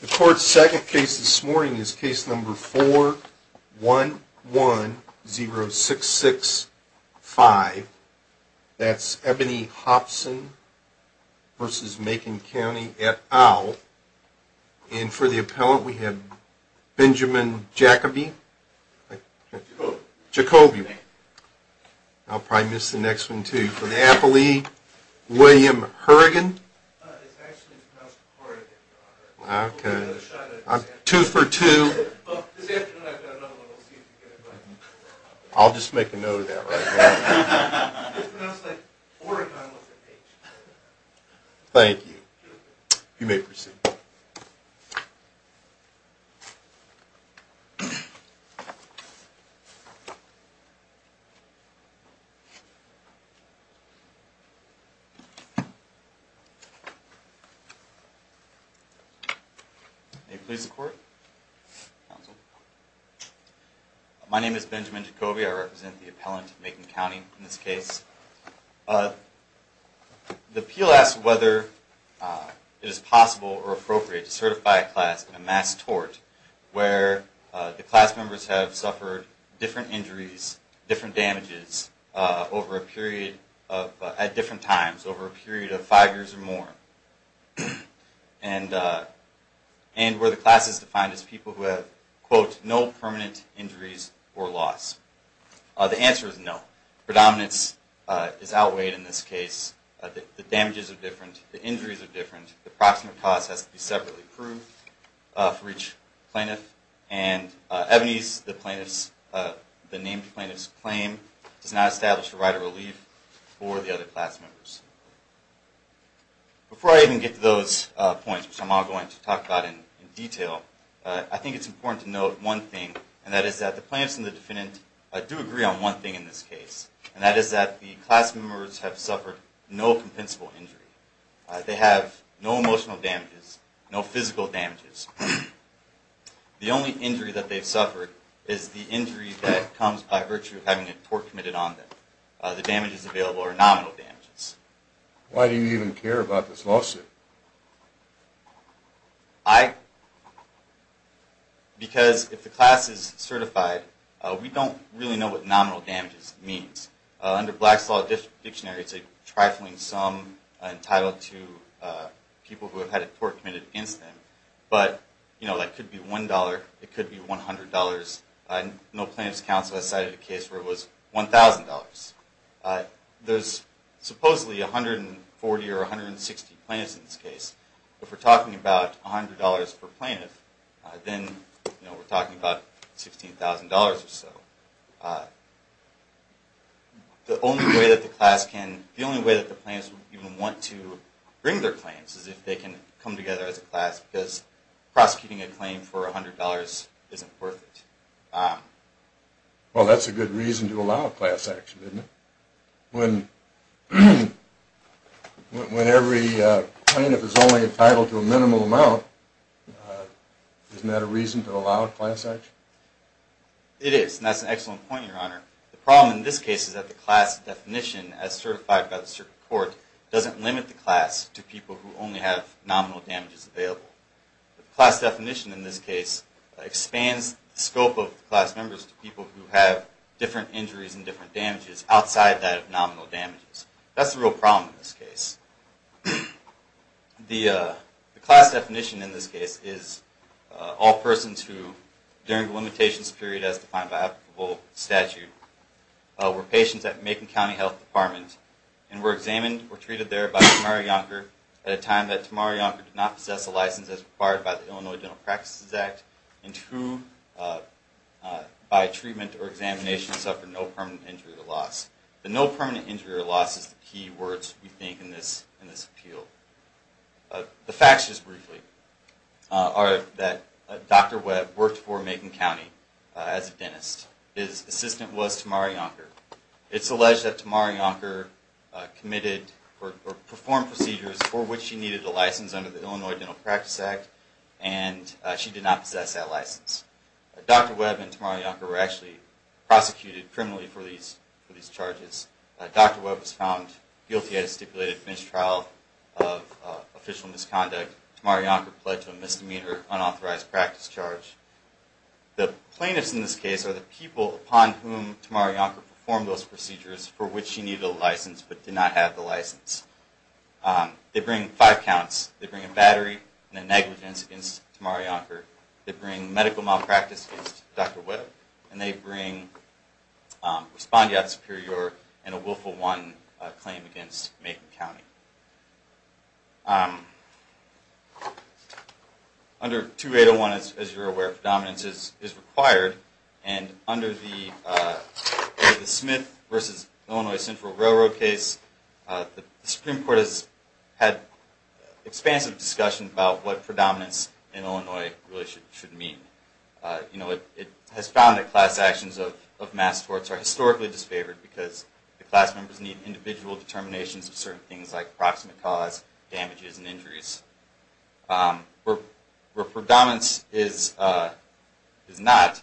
The court's second case this morning is case number 4110665. That's Ebony Hopson v. Macon County et al. And for the appellant we have Benjamin Jacobi. I'll probably miss the next one too. And for the appellee, William Hurrigan. Two for two. I'll just make a note of that right now. Thank you. You may proceed. My name is Benjamin Jacobi. I represent the appellant in Macon County in this case. The appeal asks whether it is possible or appropriate to certify a class in a mass tort where the class members have suffered different injuries, different damages at different times over a period of five years or more. And where the class is defined as people who have, quote, no permanent injuries or loss. The answer is no. Predominance is outweighed in this case. The damages are different. The injuries are different. The approximate cost has to be separately approved for each plaintiff. And Ebony's, the named plaintiff's claim, does not establish a right of relief for the other class members. Before I even get to those points, which I'm not going to talk about in detail, I think it's important to note one thing. And that is that the plaintiffs and the defendant do agree on one thing in this case. And that is that the class members have suffered no compensable injury. They have no emotional damages, no physical damages. The only injury that they've suffered is the injury that comes by virtue of having a tort committed on them. The damages available are nominal damages. Why do you even care about this lawsuit? Because if the class is certified, we don't really know what nominal damages means. Under Black Slaw Dictionary, it's a trifling sum entitled to people who have had a tort committed incident. But, you know, that could be $1. It could be $100. No plaintiff's counsel has cited a case where it was $1,000. There's supposedly 140 or 160 plaintiffs in this case. If we're talking about $100 per plaintiff, then, you know, we're talking about $16,000 or so. The only way that the class can, the only way that the plaintiffs even want to bring their claims is if they can come together as a class, because prosecuting a claim for $100 isn't worth it. Well, that's a good reason to allow a class action, isn't it? When every plaintiff is only entitled to a minimal amount, isn't that a reason to allow a class action? It is, and that's an excellent point, Your Honor. The problem in this case is that the class definition, as certified by the circuit court, doesn't limit the class to people who only have nominal damages available. The class definition in this case expands the scope of the class members to people who have different injuries and different damages outside that of nominal damages. That's the real problem in this case. The class definition in this case is all persons who, during the limitations period as defined by applicable statute, were patients at Macon County Health Department and were examined or treated there by Tamari Yonker at a time that Tamari Yonker did not possess a license as required by the Illinois Dental Practices Act and who, by treatment or examination, suffered no permanent injury or loss. The no permanent injury or loss is the key words, we think, in this appeal. The facts, just briefly, are that Dr. Webb worked for Macon County as a dentist. His assistant was Tamari Yonker. It's alleged that Tamari Yonker performed procedures for which she needed a license under the Illinois Dental Practices Act and she did not possess that license. Dr. Webb and Tamari Yonker were actually prosecuted criminally for these charges. Dr. Webb was found guilty at a stipulated finished trial of official misconduct. Tamari Yonker pled to a misdemeanor unauthorized practice charge. The plaintiffs in this case are the people upon whom Tamari Yonker performed those procedures for which she needed a license but did not have the license. They bring five counts. They bring a battery and a negligence against Tamari Yonker. They bring medical malpractice against Dr. Webb. And they bring respondeat superior and a willful one claim against Macon County. Under 2801, as you're aware, predominance is required. And under the Smith v. Illinois Central Railroad case, the Supreme Court has had expansive discussion about what predominance in Illinois really should mean. You know, it has found that class actions of mass torts are historically disfavored because the class members need individual determinations of certain things like proximate cause, damages, and injuries. Where predominance is not,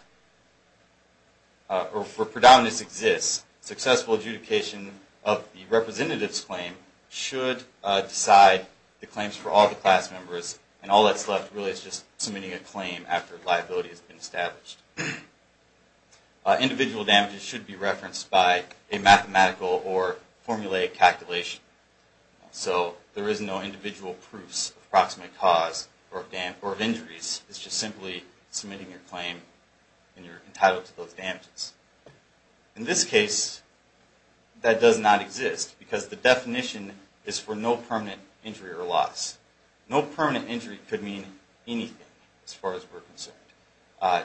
or where predominance exists, successful adjudication of the representative's claim should decide the claims for all the class members. And all that's left really is just submitting a claim after liability has been established. Individual damages should be referenced by a mathematical or formulaic calculation. So there is no individual proofs of proximate cause or of injuries. It's just simply submitting your claim and you're entitled to those damages. In this case, that does not exist because the definition is for no permanent injury or loss. No permanent injury could mean anything as far as we're concerned.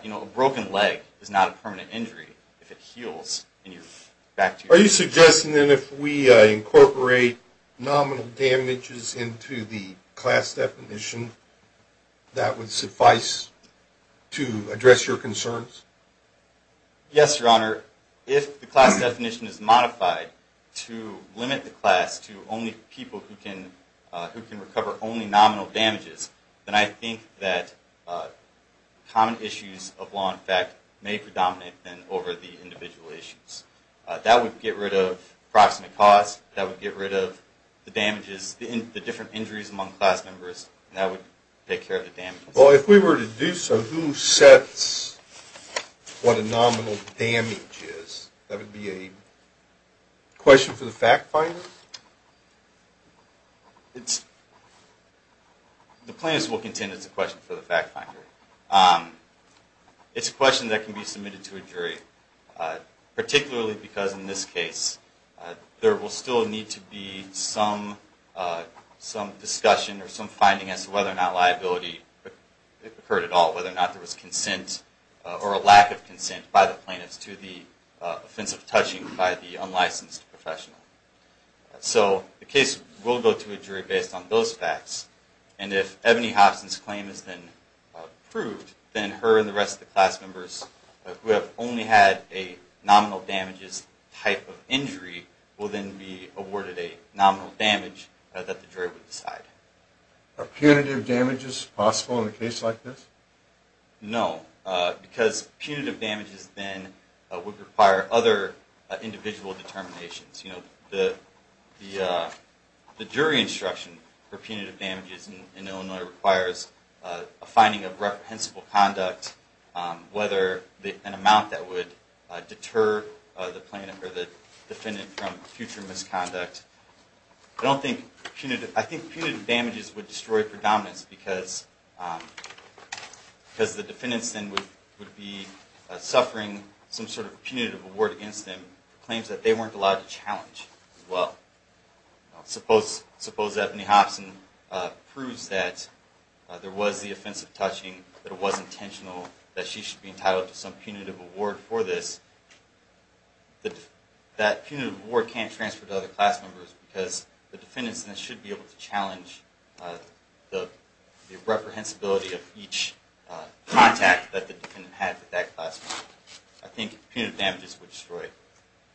You know, a broken leg is not a permanent injury if it heals. Are you suggesting that if we incorporate nominal damages into the class definition, that would suffice to address your concerns? Yes, Your Honor. If the class definition is modified to limit the class to only people who can recover only nominal damages, then I think that common issues of law and fact may predominate then over the individual issues. That would get rid of proximate cause. That would get rid of the damages, the different injuries among class members. And that would take care of the damages. Well, if we were to do so, who sets what a nominal damage is? That would be a question for the fact finder? The plaintiffs will contend it's a question for the fact finder. It's a question that can be submitted to a jury, particularly because in this case there will still need to be some discussion or some finding as to whether or not liability occurred at all, whether or not there was consent or a lack of consent by the plaintiffs to the offensive touching by the unlicensed professional. So the case will go to a jury based on those facts. And if Ebony Hobson's claim is then approved, then her and the rest of the class members who have only had a nominal damages type of injury will then be awarded a nominal damage that the jury will decide. Are punitive damages possible in a case like this? No, because punitive damages then would require other individual determinations. The jury instruction for punitive damages in Illinois requires a finding of reprehensible conduct, whether an amount that would deter the defendant from future misconduct. I think punitive damages would destroy predominance because the defendants then would be suffering some sort of punitive award against them for claims that they weren't allowed to challenge as well. Suppose Ebony Hobson proves that there was the offensive touching, that it was intentional, that she should be entitled to some punitive award for this. That punitive award can't transfer to other class members because the defendants then should be able to challenge the reprehensibility of each contact that the defendant had with that class member. I think punitive damages would destroy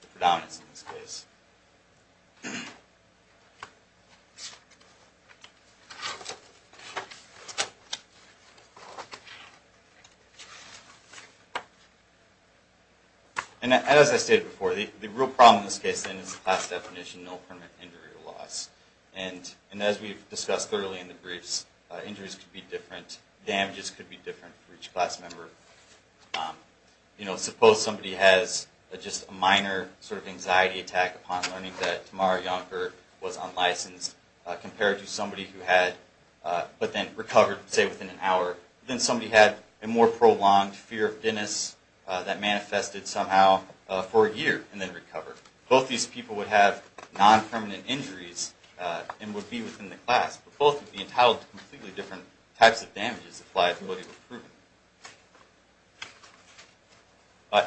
the predominance in this case. As I stated before, the real problem in this case then is the class definition, no permanent injury or loss. As we've discussed thoroughly in the briefs, injuries could be different, damages could be different for each class member. Suppose somebody has a minor anxiety attack upon learning that Tamara Yonker was unlicensed compared to somebody who had recovered within an hour. Then somebody had a more prolonged fear of Dennis that manifested somehow for a year and then recovered. Both these people would have non-permanent injuries and would be within the class, but both would be entitled to completely different types of damages applied to what he was proven.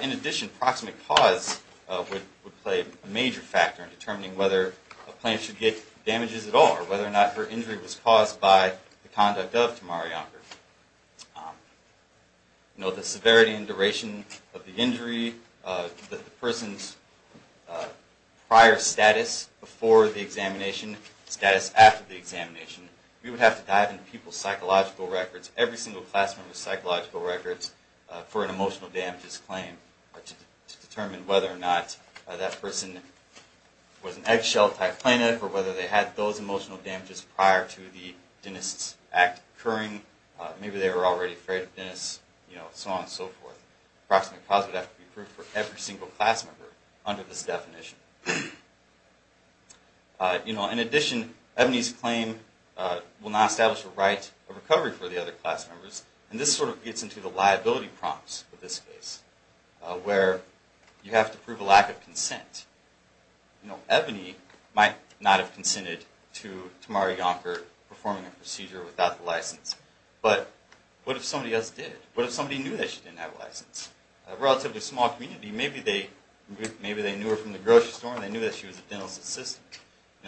In addition, proximate cause would play a major factor in determining whether a plaintiff should get damages at all or whether or not her injury was caused by the conduct of Tamara Yonker. Note the severity and duration of the injury, the person's prior status before the examination, status after the examination. We would have to dive into people's psychological records, every single class member's psychological records, for an emotional damages claim to determine whether or not that person was an eggshell type plaintiff or whether they had those emotional damages prior to the Dennis Act occurring, maybe they were already afraid of Dennis, so on and so forth. Proximate cause would have to be proved for every single class member under this definition. In addition, Ebony's claim will not establish a right of recovery for the other class members, and this sort of gets into the liability prompts of this case, where you have to prove a lack of consent. Ebony might not have consented to Tamara Yonker performing a procedure without the license, but what if somebody else did? What if somebody knew that she didn't have a license? A relatively small community, maybe they knew her from the grocery store and they knew that she was a dental assistant.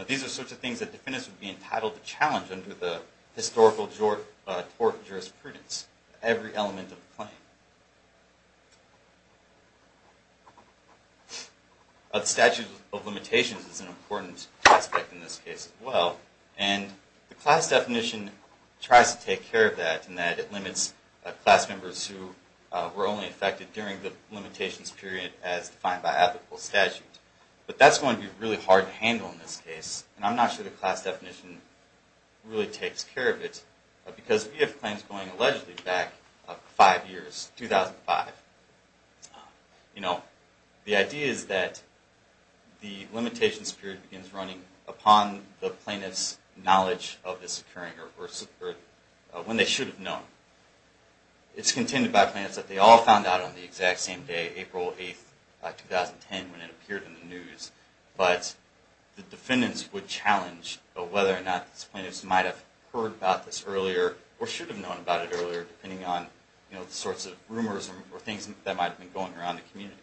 These are sorts of things that defendants would be entitled to challenge under the historical tort jurisprudence, every element of the claim. The statute of limitations is an important aspect in this case as well, and the class definition tries to take care of that in that it limits class members who were only affected during the limitations period as defined by ethical statute. But that's going to be really hard to handle in this case, and I'm not sure the class definition really takes care of it, because if you have claims going allegedly back five years, 2005, the idea is that the limitations period begins running upon the plaintiff's knowledge of this occurring, or when they should have known. It's contended by plaintiffs that they all found out on the exact same day, April 8th, 2010, when it appeared in the news. But the defendants would challenge whether or not these plaintiffs might have heard about this earlier, or should have known about it earlier, depending on the sorts of rumors or things that might have been going around the community.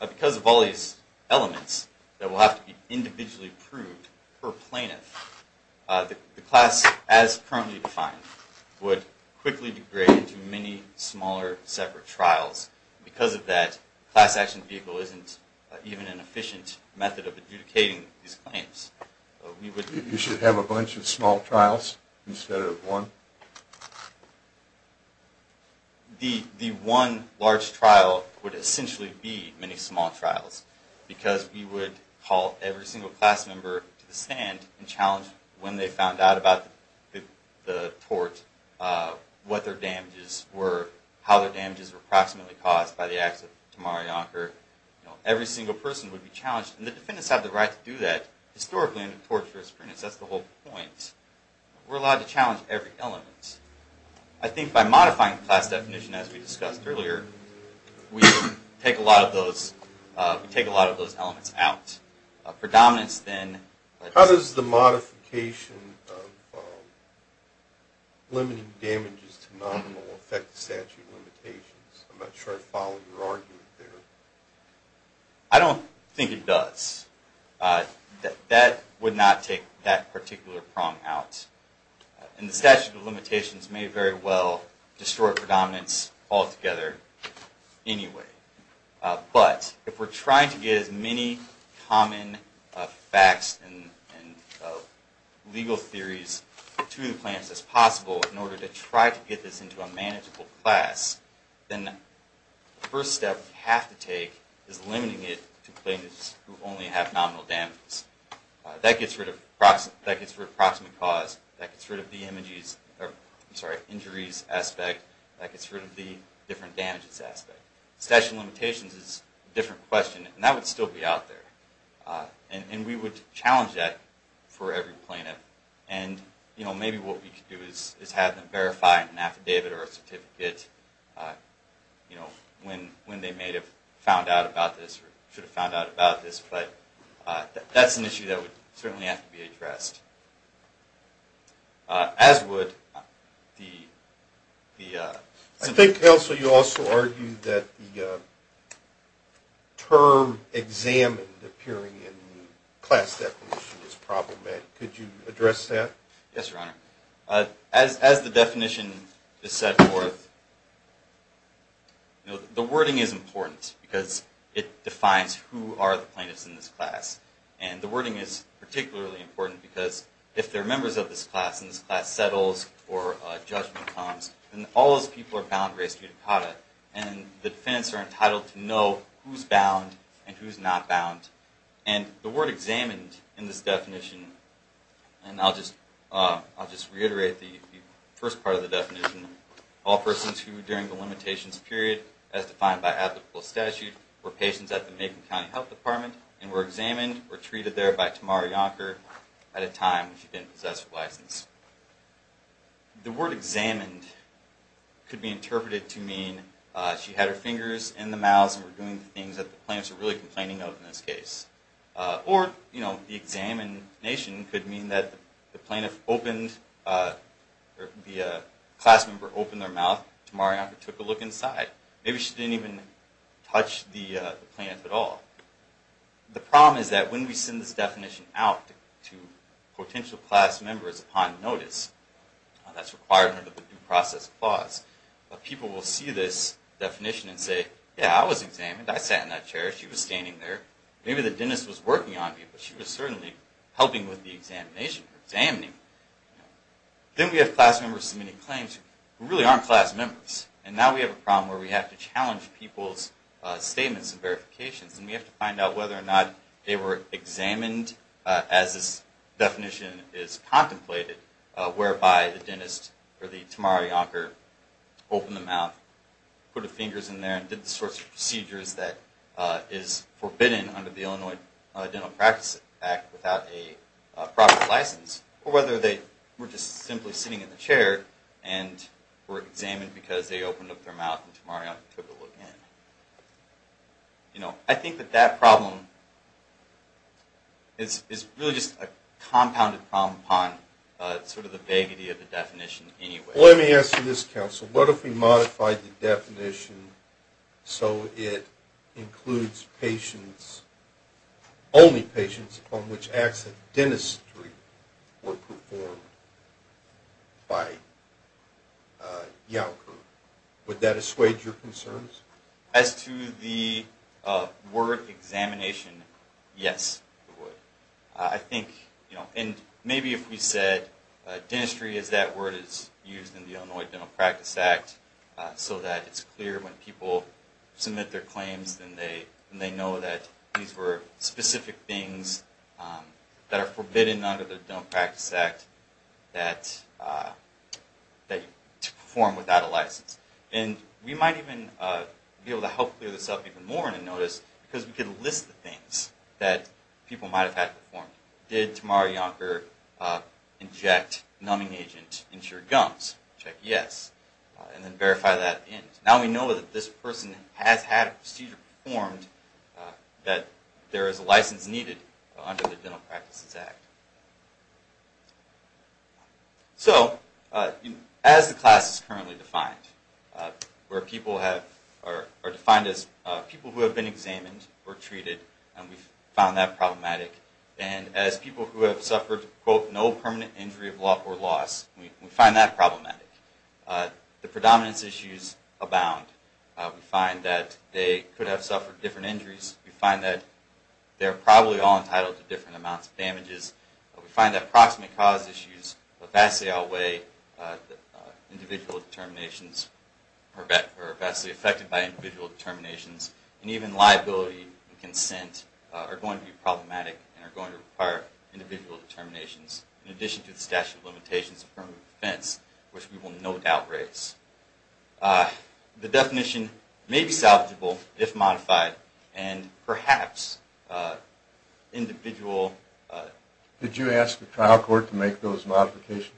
Because of all these elements that will have to be individually proved per plaintiff, the class as currently defined would quickly degrade into many smaller separate trials. Because of that, the class action vehicle isn't even an efficient method of adjudicating these claims. You should have a bunch of small trials instead of one? The one large trial would essentially be many small trials, because we would call every single class member to the stand and challenge when they found out about the tort, what their damages were, how their damages were approximately caused by the acts of Tamara Yonker. Every single person would be challenged. And the defendants have the right to do that historically under the Torture of Supremacy. That's the whole point. We're allowed to challenge every element. I think by modifying the class definition, as we discussed earlier, we take a lot of those elements out. How does the modification of limiting damages to nominal affect the statute of limitations? I'm not sure I follow your argument there. I don't think it does. That would not take that particular prong out. And the statute of limitations may very well destroy predominance altogether anyway. But if we're trying to get as many common facts and legal theories to the plaintiffs as possible in order to try to get this into a manageable class, then the first step we have to take is limiting it to plaintiffs who only have nominal damages. That gets rid of approximate cause. That gets rid of the injuries aspect. That gets rid of the different damages aspect. The statute of limitations is a different question. And that would still be out there. And we would challenge that for every plaintiff. And maybe what we could do is have them verify an affidavit or a certificate when they may have found out about this or should have found out about this. But that's an issue that would certainly have to be addressed. As would the... I think, Counsel, you also argued that the term examined appearing in the class definition was problematic. Could you address that? Yes, Your Honor. As the definition is set forth, the wording is important because it defines who are the plaintiffs in this class. And the wording is particularly important because if they're members of this class, and this class settles or judgment comes, then all those people are bound by res judicata. And the defendants are entitled to know who's bound and who's not bound. And the word examined in this definition, and I'll just reiterate the first part of the definition, all persons who during the limitations period, as defined by applicable statute, were patients at the Macon County Health Department and were examined or treated there by Tamara Yonker at a time when she didn't possess a license. The word examined could be interpreted to mean she had her fingers in the mouth and were doing things that the plaintiffs were really complaining of in this case. Or, you know, the examination could mean that the plaintiff opened, or the class member opened their mouth and Tamara Yonker took a look inside. Maybe she didn't even touch the plaintiff at all. The problem is that when we send this definition out to potential class members upon notice, that's required under the due process clause, but people will see this definition and say, yeah, I was examined. I sat in that chair. She was standing there. Maybe the dentist was working on me, but she was certainly helping with the examination or examining. Then we have class members submitting claims who really aren't class members. And now we have a problem where we have to challenge people's statements and verifications, and we have to find out whether or not they were examined as this definition is contemplated, whereby the dentist or the Tamara Yonker opened the mouth, put her fingers in there, and did the sorts of procedures that is forbidden under the Illinois Dental Practice Act without a proper license, or whether they were just simply sitting in the chair and were examined because they opened up their mouth and Tamara Yonker took a look in. I think that that problem is really just a compounded problem upon sort of the vaguety of the definition anyway. Well, let me ask you this, counsel. What if we modified the definition so it includes patients, only patients, upon which acts of dentistry were performed by Yonker? Would that assuage your concerns? As to the word examination, yes, it would. And maybe if we said dentistry is that word used in the Illinois Dental Practice Act so that it's clear when people submit their claims and they know that these were specific things that are forbidden under the Dental Practice Act to perform without a license. And we might even be able to help clear this up even more in a notice because we could list the things that people might have had performed. Did Tamara Yonker inject numbing agent into your gums? Check yes. And then verify that in. Now we know that this person has had a procedure performed, that there is a license needed under the Dental Practices Act. So, as the class is currently defined, where people are defined as people who have been examined or treated, and we found that problematic, and as people who have suffered, quote, no permanent injury of love or loss, we find that problematic. The predominance issues abound. We find that they could have suffered different injuries. We find that they're probably all entitled to different amounts of damages We find that proximate cause issues vastly outweigh individual determinations or are vastly affected by individual determinations. And even liability and consent are going to be problematic and are going to require individual determinations, in addition to the statute of limitations of affirmative defense, which we will no doubt raise. The definition may be salvageable if modified, and perhaps individual... Did you ask the trial court to make those modifications?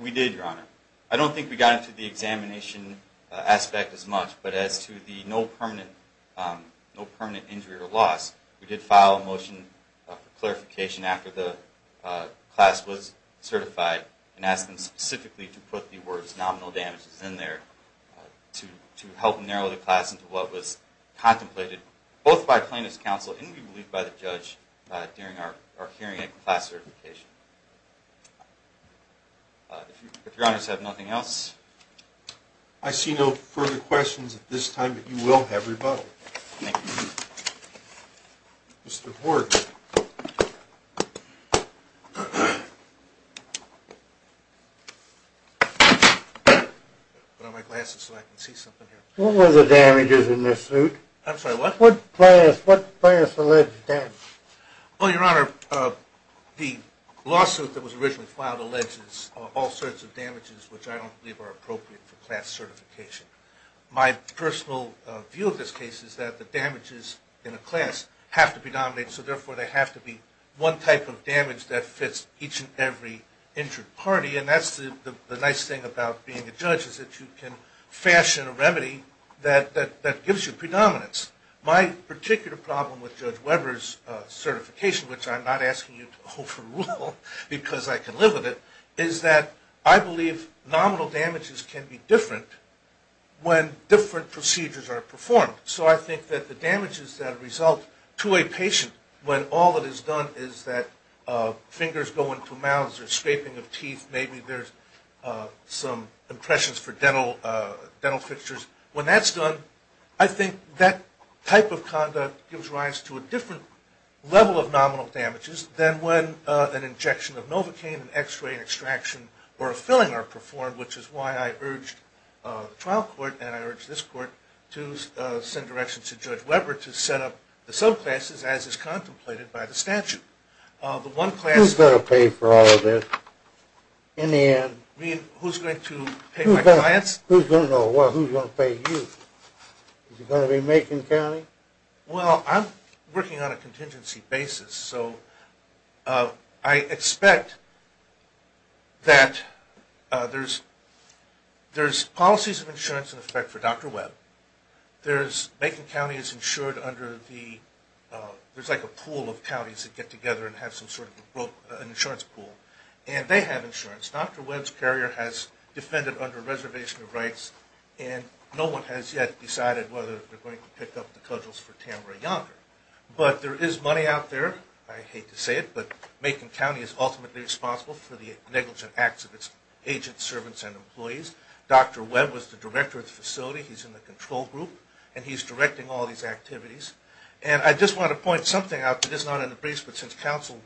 We did, Your Honor. I don't think we got into the examination aspect as much, but as to the no permanent injury or loss, we did file a motion for clarification after the class was certified and asked them specifically to put the words nominal damages in there to help narrow the class into what was contemplated, both by plaintiff's counsel and, we believe, by the judge, during our hearing at class certification. If Your Honors have nothing else... I see no further questions at this time, but you will have rebuttal. Thank you. Mr. Horton. Yes. Put on my glasses so I can see something here. What were the damages in this suit? I'm sorry, what? What class alleged damages? Well, Your Honor, the lawsuit that was originally filed alleges all sorts of damages which I don't believe are appropriate for class certification. My personal view of this case is that the damages in a class have to predominate, so therefore they have to be one type of damage that fits each and every injured party, and that's the nice thing about being a judge, is that you can fashion a remedy that gives you predominance. My particular problem with Judge Weber's certification, which I'm not asking you to overrule because I can live with it, is that I believe nominal damages can be different when different procedures are performed. So I think that the damages that result to a patient when all that is done is that fingers go into mouths or scraping of teeth, maybe there's some impressions for dental fixtures, when that's done, I think that type of conduct gives rise to a different level of nominal damages than when an injection of Novocaine, an X-ray, an extraction, or a filling are performed, which is why I urged the trial court and I urged this court to send directions to Judge Weber to set up the subclasses as is contemplated by the statute. Who's going to pay for all of this? In the end, who's going to pay my clients? Who's going to know? Well, who's going to pay you? Is it going to be Macon County? Well, I'm working on a contingency basis, so I expect that there's policies of insurance in effect for Dr. Webb. Macon County is insured under the – there's like a pool of counties that get together and have some sort of an insurance pool, and they have insurance. Dr. Webb's carrier has defended under a reservation of rights, and no one has yet decided whether they're going to pick up the cudgels for Tamara Yonker. But there is money out there. I hate to say it, but Macon County is ultimately responsible for the negligent acts of its agents, servants, and employees. Dr. Webb was the director of the facility. He's in the control group, and he's directing all these activities. And I just want to point something out that is not in the briefs, but since counsel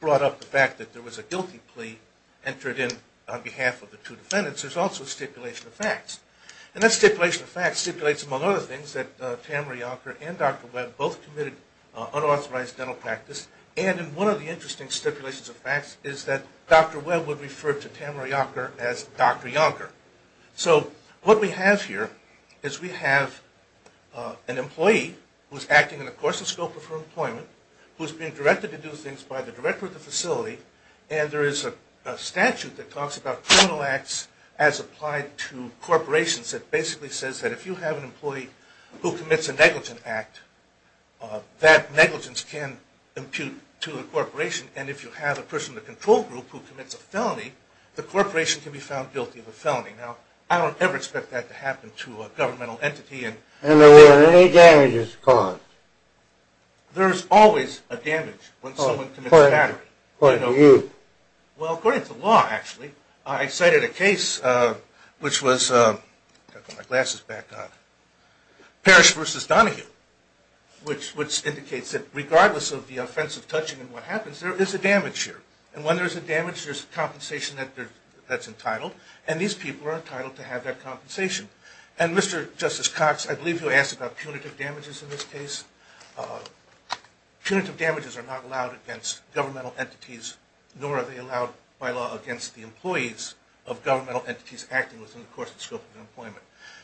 brought up the fact that there was a guilty plea entered in on behalf of the two defendants, there's also a stipulation of facts. And that stipulation of facts stipulates, among other things, that Tamara Yonker and Dr. Webb both committed unauthorized dental practice. And in one of the interesting stipulations of facts is that Dr. Webb would refer to Tamara Yonker as Dr. Yonker. So what we have here is we have an employee who's acting in the course and scope of her employment, who's being directed to do things by the director of the facility, and there is a statute that talks about criminal acts as applied to corporations that basically says that if you have an employee who commits a negligent act, that negligence can impute to a corporation. And if you have a person in the control group who commits a felony, the corporation can be found guilty of a felony. Now, I don't ever expect that to happen to a governmental entity. And there were any damages caused? There's always a damage when someone commits a battery. According to you? Well, according to the law, actually. I cited a case which was Parrish v. Donahue, which indicates that regardless of the offensive touching and what happens, there is a damage here. And when there's a damage, there's compensation that's entitled, and these people are entitled to have that compensation. And Mr. Justice Cox, I believe you asked about punitive damages in this case. Punitive damages are not allowed against governmental entities, nor are they allowed by law against the employees of governmental entities acting within the course and scope of employment.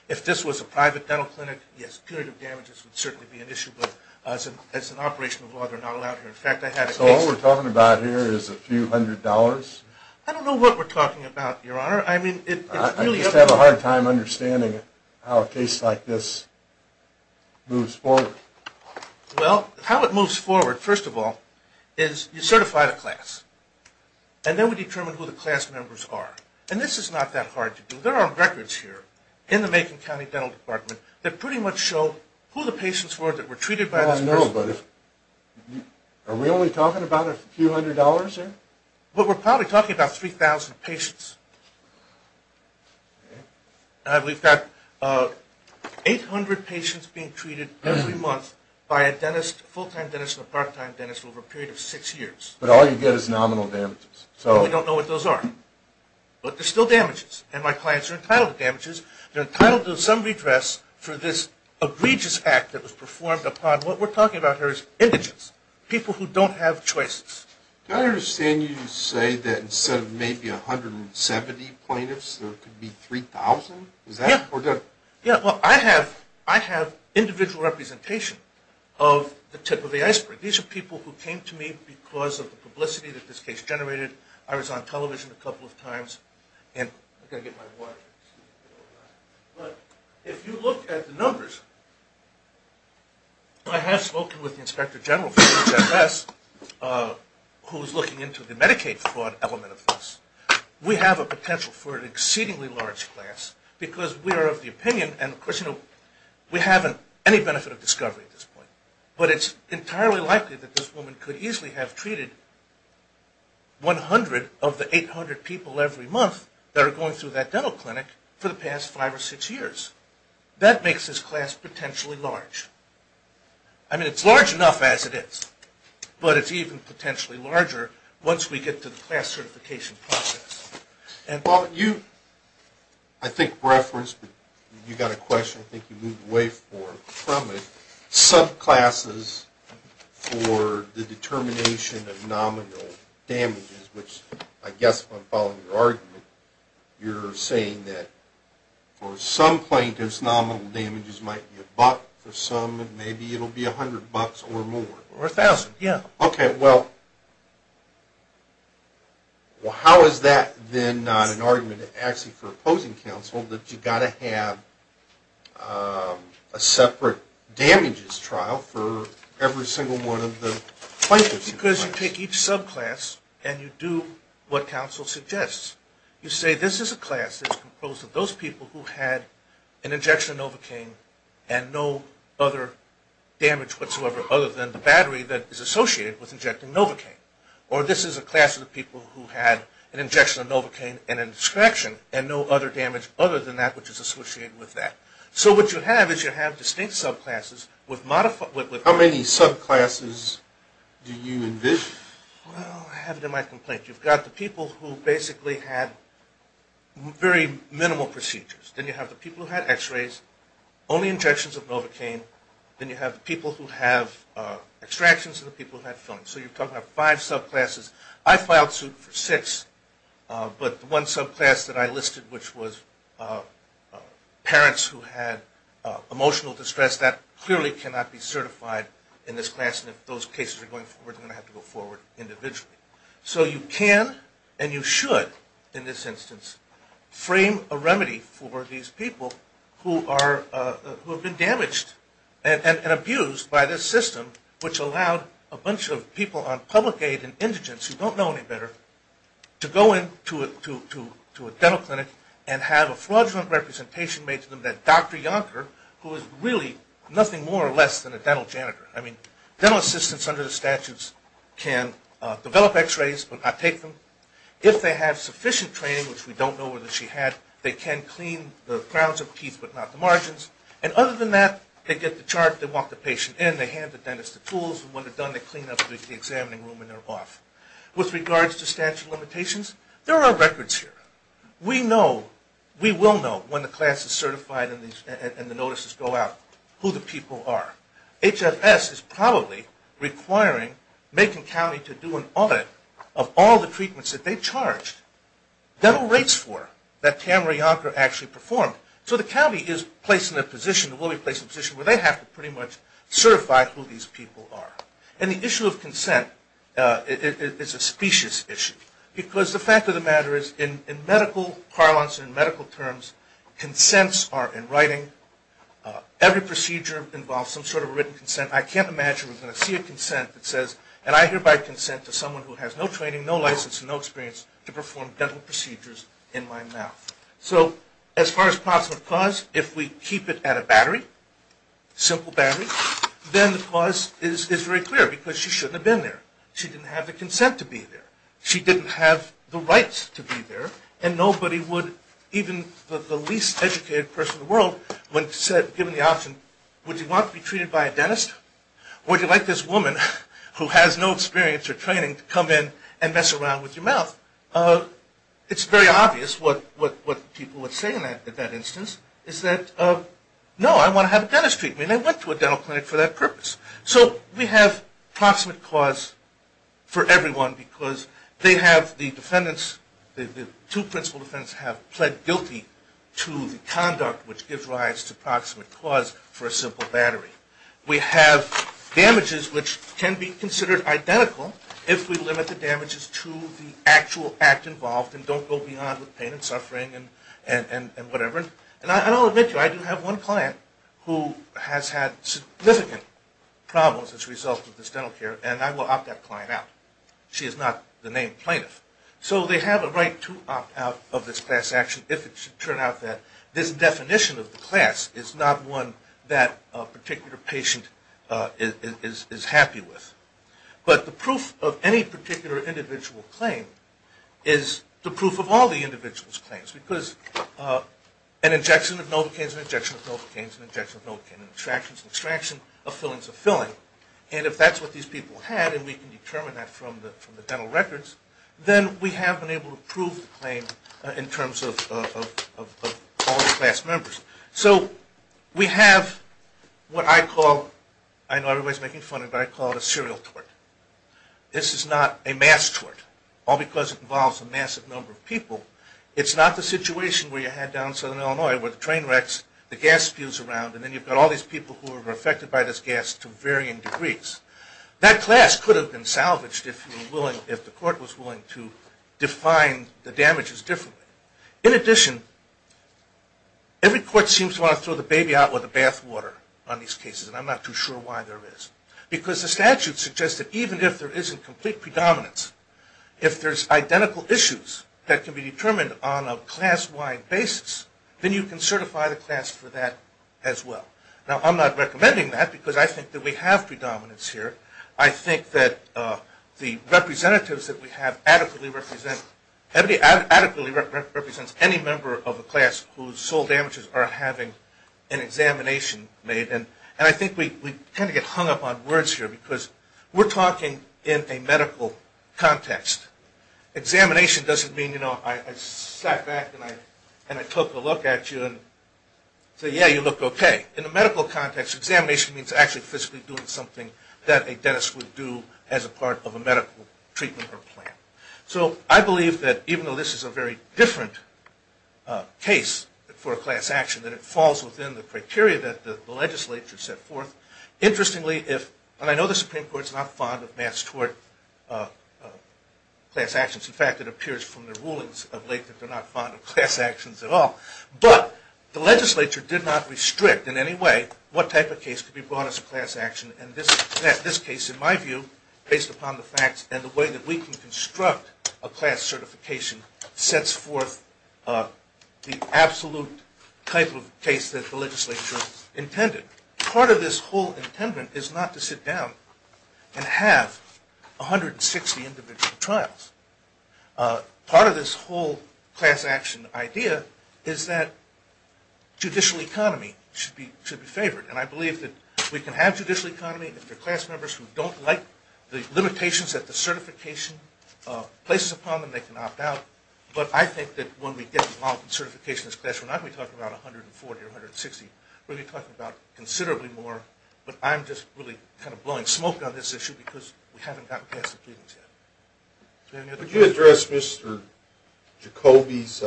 If this was a private dental clinic, yes, punitive damages would certainly be an issue, but as an operational law, they're not allowed here. So what we're talking about here is a few hundred dollars? I don't know what we're talking about, Your Honor. I just have a hard time understanding how a case like this moves forward. Well, how it moves forward, first of all, is you certify the class. And then we determine who the class members are. And this is not that hard to do. There are records here in the Macon County Dental Department that pretty much show who the patients were that were treated by this person. I don't know, but are we only talking about a few hundred dollars here? Well, we're probably talking about 3,000 patients. We've got 800 patients being treated every month by a dentist, a full-time dentist and a part-time dentist over a period of six years. But all you get is nominal damages. We don't know what those are, but they're still damages, and my clients are entitled to damages. They're entitled to some redress for this egregious act that was performed upon, what we're talking about here is indigents, people who don't have choices. I understand you say that instead of maybe 170 plaintiffs, there could be 3,000? Yeah. Is that correct? Yeah, well, I have individual representation of the tip of the iceberg. These are people who came to me because of the publicity that this case generated. I was on television a couple of times, and I've got to get my water. But if you look at the numbers, I have spoken with the inspector general for HHS who is looking into the Medicaid fraud element of this. We have a potential for an exceedingly large class because we are of the opinion, and of course we haven't any benefit of discovery at this point, but it's entirely likely that this woman could easily have treated 100 of the 800 people every month that are going through that dental clinic for the past five or six years. That makes this class potentially large. I mean, it's large enough as it is, but it's even potentially larger once we get to the class certification process. Well, you, I think referenced, you got a question, I think you moved away from it, subclasses for the determination of nominal damages, which I guess, if I'm following your argument, you're saying that for some plaintiffs, nominal damages might be $1 for some, and maybe it will be $100 or more. Or $1,000, yeah. Okay, well, how is that then not an argument actually for opposing counsel that you've got to have a separate damages trial for every single one of the plaintiffs? Because you take each subclass and you do what counsel suggests. You say this is a class that's composed of those people who had an injection of Novocaine and no other damage whatsoever other than the battery that is associated with injecting Novocaine. Or this is a class of the people who had an injection of Novocaine and a disconnection and no other damage other than that which is associated with that. So what you have is you have distinct subclasses with modified – How many subclasses do you envision? Well, I have it in my complaint. You've got the people who basically had very minimal procedures. Then you have the people who had x-rays, only injections of Novocaine. Then you have the people who have extractions and the people who had films. So you're talking about five subclasses. I filed suit for six, but the one subclass that I listed, which was parents who had emotional distress, that clearly cannot be certified in this class. And if those cases are going forward, they're going to have to go forward individually. So you can and you should, in this instance, frame a remedy for these people who have been damaged and abused by this system, which allowed a bunch of people on public aid and indigents who don't know any better to go into a dental clinic and have a fraudulent representation made to them that Dr. Yonker, who is really nothing more or less than a dental janitor. I mean, dental assistants under the statutes can develop x-rays, but not take them. If they have sufficient training, which we don't know whether she had, they can clean the crowns of teeth but not the margins. And other than that, they get the chart, they walk the patient in, they hand the dentist the tools, and when they're done, they clean up the examining room and they're off. With regards to statute of limitations, there are records here. We know, we will know when the class is certified and the notices go out, who the people are. HFS is probably requiring Macon County to do an audit of all the treatments that they charged dental rates for that Tamara Yonker actually performed. So the county is placed in a position, will be placed in a position, where they have to pretty much certify who these people are. And the issue of consent is a specious issue because the fact of the matter is, in medical parlance and medical terms, consents are in writing. Every procedure involves some sort of written consent. I can't imagine we're going to see a consent that says, and I hereby consent to someone who has no training, no license, and no experience to perform dental procedures in my mouth. So as far as possible cause, if we keep it at a battery, simple battery, then the cause is very clear because she shouldn't have been there. She didn't have the consent to be there. She didn't have the rights to be there, and nobody would, even the least educated person in the world, when given the option, would you want to be treated by a dentist? Would you like this woman who has no experience or training to come in and mess around with your mouth? It's very obvious what people would say in that instance is that, no, I want to have a dentist treat me. They went to a dental clinic for that purpose. So we have proximate cause for everyone because they have the defendants, the two principal defendants have pled guilty to the conduct which gives rise to proximate cause for a simple battery. We have damages which can be considered identical if we limit the damages to the actual act involved and don't go beyond with pain and suffering and whatever. And I'll admit to you, I do have one client who has had significant problems as a result of this dental care, and I will opt that client out. She is not the named plaintiff. So they have a right to opt out of this class action if it should turn out that this definition of the class is not one that a particular patient is happy with. But the proof of any particular individual claim is the proof of all the individual's claims because an injection of novocaine is an injection of novocaine is an injection of novocaine. An extraction is an extraction. A filling is a filling. And if that's what these people had and we can determine that from the dental records, then we have been able to prove the claim in terms of all the class members. So we have what I call, I know everybody is making fun of it, but I call it a serial tort. This is not a mass tort, all because it involves a massive number of people. It's not the situation where you had down in southern Illinois where the train wrecks, the gas spews around, and then you've got all these people who are affected by this gas to varying degrees. That class could have been salvaged if the court was willing to define the damages differently. In addition, every court seems to want to throw the baby out with the bath water on these cases, and I'm not too sure why there is. Because the statute suggests that even if there isn't complete predominance, if there's identical issues that can be determined on a class-wide basis, then you can certify the class for that as well. Now, I'm not recommending that because I think that we have predominance here. I think that the representatives that we have adequately represent any member of a class whose sole damages are having an examination made. And I think we tend to get hung up on words here because we're talking in a medical context. Examination doesn't mean, you know, I sat back and I took a look at you and said, yeah, you look okay. In a medical context, examination means actually physically doing something that a dentist would do as a part of a medical treatment or plan. So I believe that even though this is a very different case for a class action, that it falls within the criteria that the legislature set forth. Interestingly, and I know the Supreme Court is not fond of mass tort class actions. In fact, it appears from their rulings of late that they're not fond of class actions at all. But the legislature did not restrict in any way what type of case could be brought as a class action. And this case, in my view, based upon the facts and the way that we can construct a class certification, sets forth the absolute type of case that the legislature intended. Part of this whole intent is not to sit down and have 160 individual trials. Part of this whole class action idea is that judicial economy should be favored. And I believe that we can have judicial economy if the class members who don't like the limitations that the certification places upon them, they can opt out. But I think that when we get involved in certification as a class, we're not going to be talking about 140 or 160. We're going to be talking about considerably more. But I'm just really kind of blowing smoke on this issue because we haven't gotten past the proceedings yet. Did you have any other questions? Could you address Mr. Jacoby's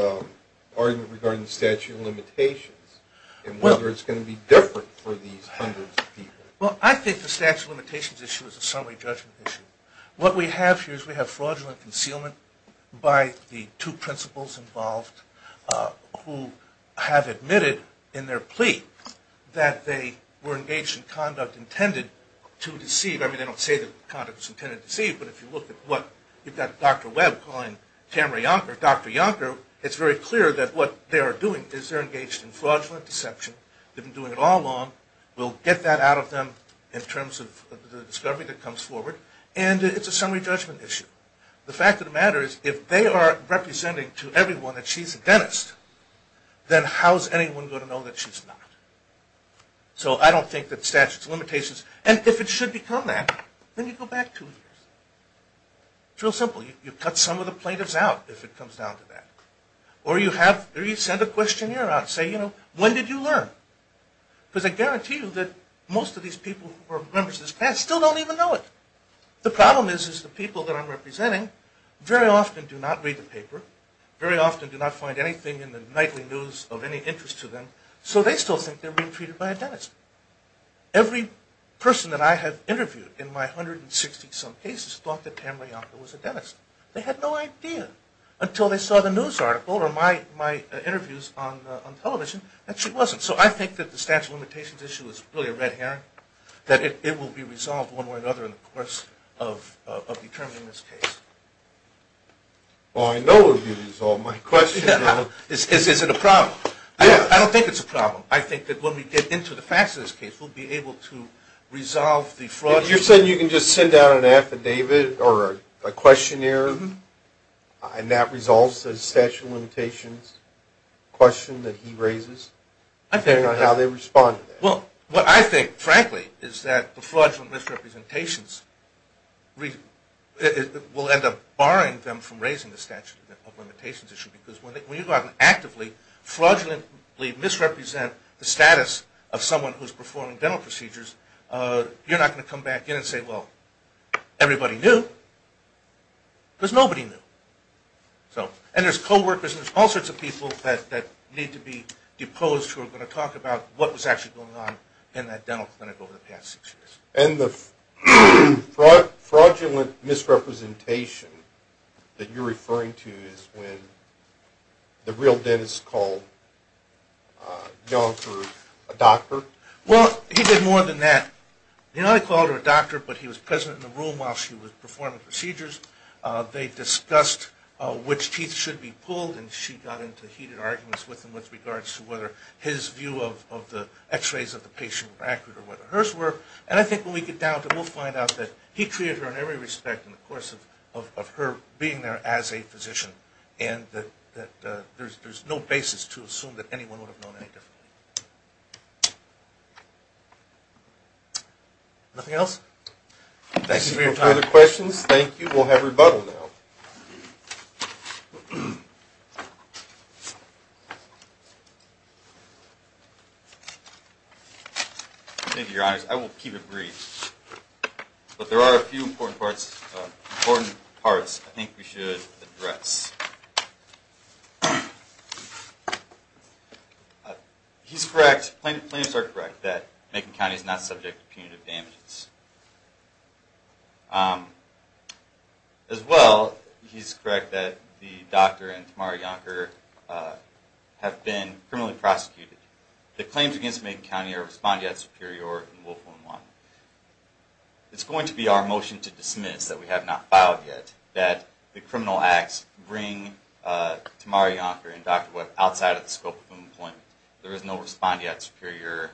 argument regarding the statute of limitations and whether it's going to be different for these hundreds of people? Well, I think the statute of limitations issue is a summary judgment issue. What we have here is we have fraudulent concealment by the two principals involved who have admitted in their plea that they were engaged in conduct intended to deceive. I mean, they don't say that the conduct was intended to deceive. But if you look at what you've got Dr. Webb calling Tamara Yonker, Dr. Yonker, it's very clear that what they are doing is they're engaged in fraudulent deception. They've been doing it all along. We'll get that out of them in terms of the discovery that comes forward. And it's a summary judgment issue. The fact of the matter is if they are representing to everyone that she's a dentist, then how is anyone going to know that she's not? So I don't think that statute of limitations. And if it should become that, then you go back two years. It's real simple. You cut some of the plaintiffs out if it comes down to that. Or you send a questionnaire out and say, you know, when did you learn? Because I guarantee you that most of these people who are members of this class still don't even know it. The problem is the people that I'm representing very often do not read the paper, very often do not find anything in the nightly news of any interest to them, so they still think they're being treated by a dentist. Every person that I have interviewed in my 160-some cases thought that Tam Rayanka was a dentist. They had no idea until they saw the news article or my interviews on television that she wasn't. So I think that the statute of limitations issue is really a red herring, that it will be resolved one way or another in the course of determining this case. Well, I know it will be resolved. My question is, is it a problem? I don't think it's a problem. I think that when we get into the facts of this case, we'll be able to resolve the fraud. You're saying you can just send out an affidavit or a questionnaire and that resolves the statute of limitations question that he raises, depending on how they respond to that? Well, what I think, frankly, is that the fraudulent misrepresentations will end up barring them from raising the statute of limitations issue because when you go out and actively, fraudulently misrepresent the status of someone who's performing dental procedures, you're not going to come back in and say, well, everybody knew because nobody knew. And there's co-workers and there's all sorts of people that need to be deposed who are going to talk about what was actually going on in that dental clinic over the past six years. And the fraudulent misrepresentation that you're referring to is when the real dentist called Young for a doctor? Well, he did more than that. You know, they called her a doctor, but he was present in the room while she was performing procedures. They discussed which teeth should be pulled, and she got into heated arguments with him with regards to whether his view of the x-rays of the And I think when we get down to it, we'll find out that he treated her in every respect in the course of her being there as a physician and that there's no basis to assume that anyone would have known any differently. Nothing else? Thank you for your time. Any further questions? Thank you. We'll have rebuttal now. Thank you, Your Honors. I will keep it brief. But there are a few important parts I think we should address. He's correct, plaintiffs are correct that Macon County is not subject to punitive damages. As well, he's correct that the doctor and Tamara Yonker have been criminally prosecuted. The claims against Macon County are respondeat superior and willful in line. It's going to be our motion to dismiss that we have not filed yet that the criminal acts bring Tamara Yonker and Dr. Webb outside of the scope of employment. There is no respondeat superior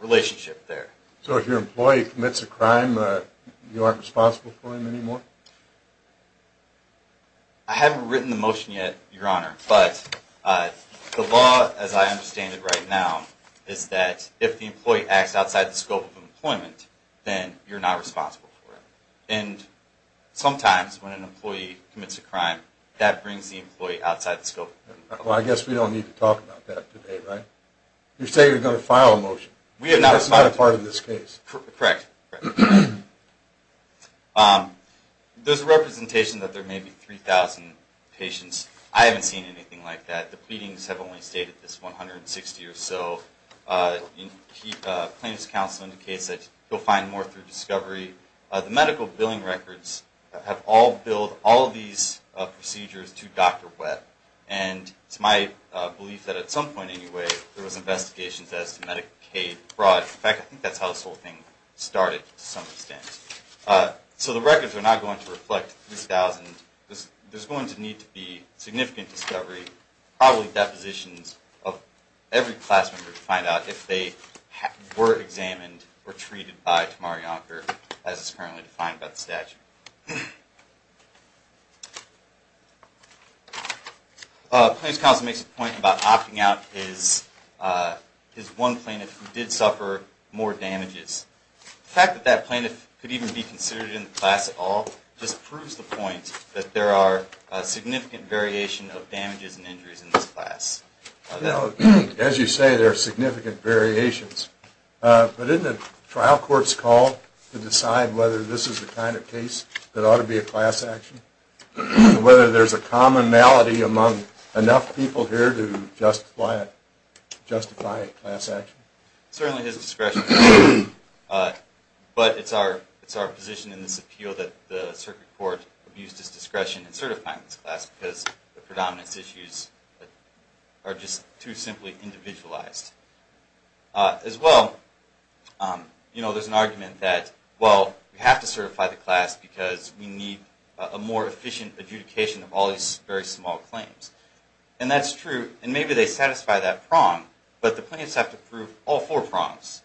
relationship there. So if your employee commits a crime, you aren't responsible for him anymore? I haven't written the motion yet, Your Honor. But the law as I understand it right now is that if the employee acts outside the scope of employment, then you're not responsible for him. And sometimes when an employee commits a crime, that brings the employee outside the scope of employment. Well, I guess we don't need to talk about that today, right? You say you're going to file a motion. That's not a part of this case. Correct. There's a representation that there may be 3,000 patients. I haven't seen anything like that. The pleadings have only stated this 160 or so. But plaintiff's counsel indicates that you'll find more through discovery. The medical billing records have all billed all of these procedures to Dr. Webb. And it's my belief that at some point anyway there was investigations as to Medicaid fraud. In fact, I think that's how this whole thing started to some extent. So the records are not going to reflect 3,000. There's going to need to be significant discovery, probably depositions of every class member to find out if they were examined or treated by Tamar Yonker, as it's currently defined by the statute. Plaintiff's counsel makes a point about opting out his one plaintiff who did suffer more damages. The fact that that plaintiff could even be considered in the class at all just proves the point that there are significant variation of damages and injuries in this class. As you say, there are significant variations. But isn't it trial court's call to decide whether this is the kind of case that ought to be a class action? Whether there's a commonality among enough people here to justify a class action? Certainly his discretion. But it's our position in this appeal that the circuit court abused his discretion in certifying this class because the predominance issues are just too simply individualized. As well, there's an argument that well, we have to certify the class because we need a more efficient adjudication of all these very small claims. And that's true. And maybe they satisfy that prong. But the plaintiffs have to prove all four prongs.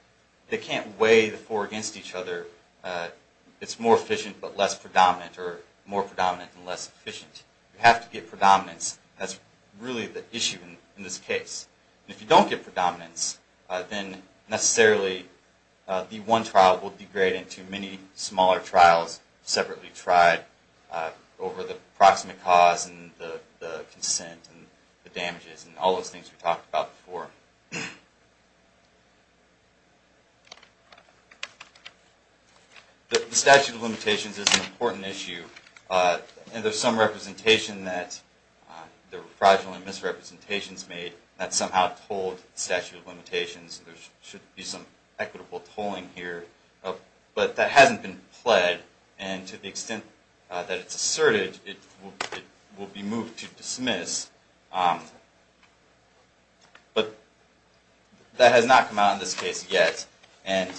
They can't weigh the four against each other. It's more efficient but less predominant or more predominant and less efficient. You have to get predominance. That's really the issue in this case. If you don't get predominance, then necessarily the one trial will degrade into many smaller trials separately tried over the proximate cause and the consent and the damages and all those things we talked about before. The statute of limitations is an important issue. And there's some representation that there were fraudulent misrepresentations made that somehow told the statute of limitations there should be some equitable tolling here. But that hasn't been pled and to the extent that it's asserted, it will be moved to dismiss. But that has not come out in this case yet. And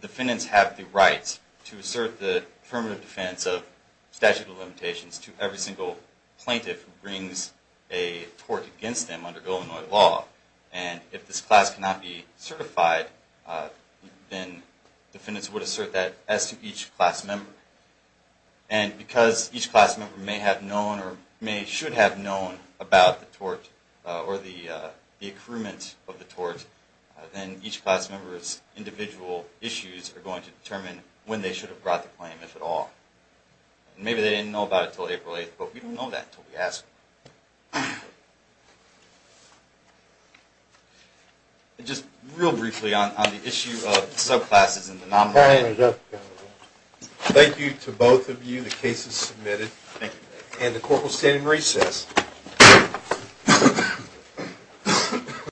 defendants have the right to assert the affirmative defense of statute of limitations to every single plaintiff who brings a tort against them under Illinois law. And if this class cannot be certified, then defendants would assert that as to each class member. And because each class member may have known or may should have known about the tort or the accruement of the tort, then each class member's individual issues are going to determine when they should have brought the claim, if at all. And maybe they didn't know about it until April 8th, but we don't know that until we ask them. And just real briefly on the issue of subclasses and the nominal. Thank you to both of you. The case is submitted. And the court will stand in recess.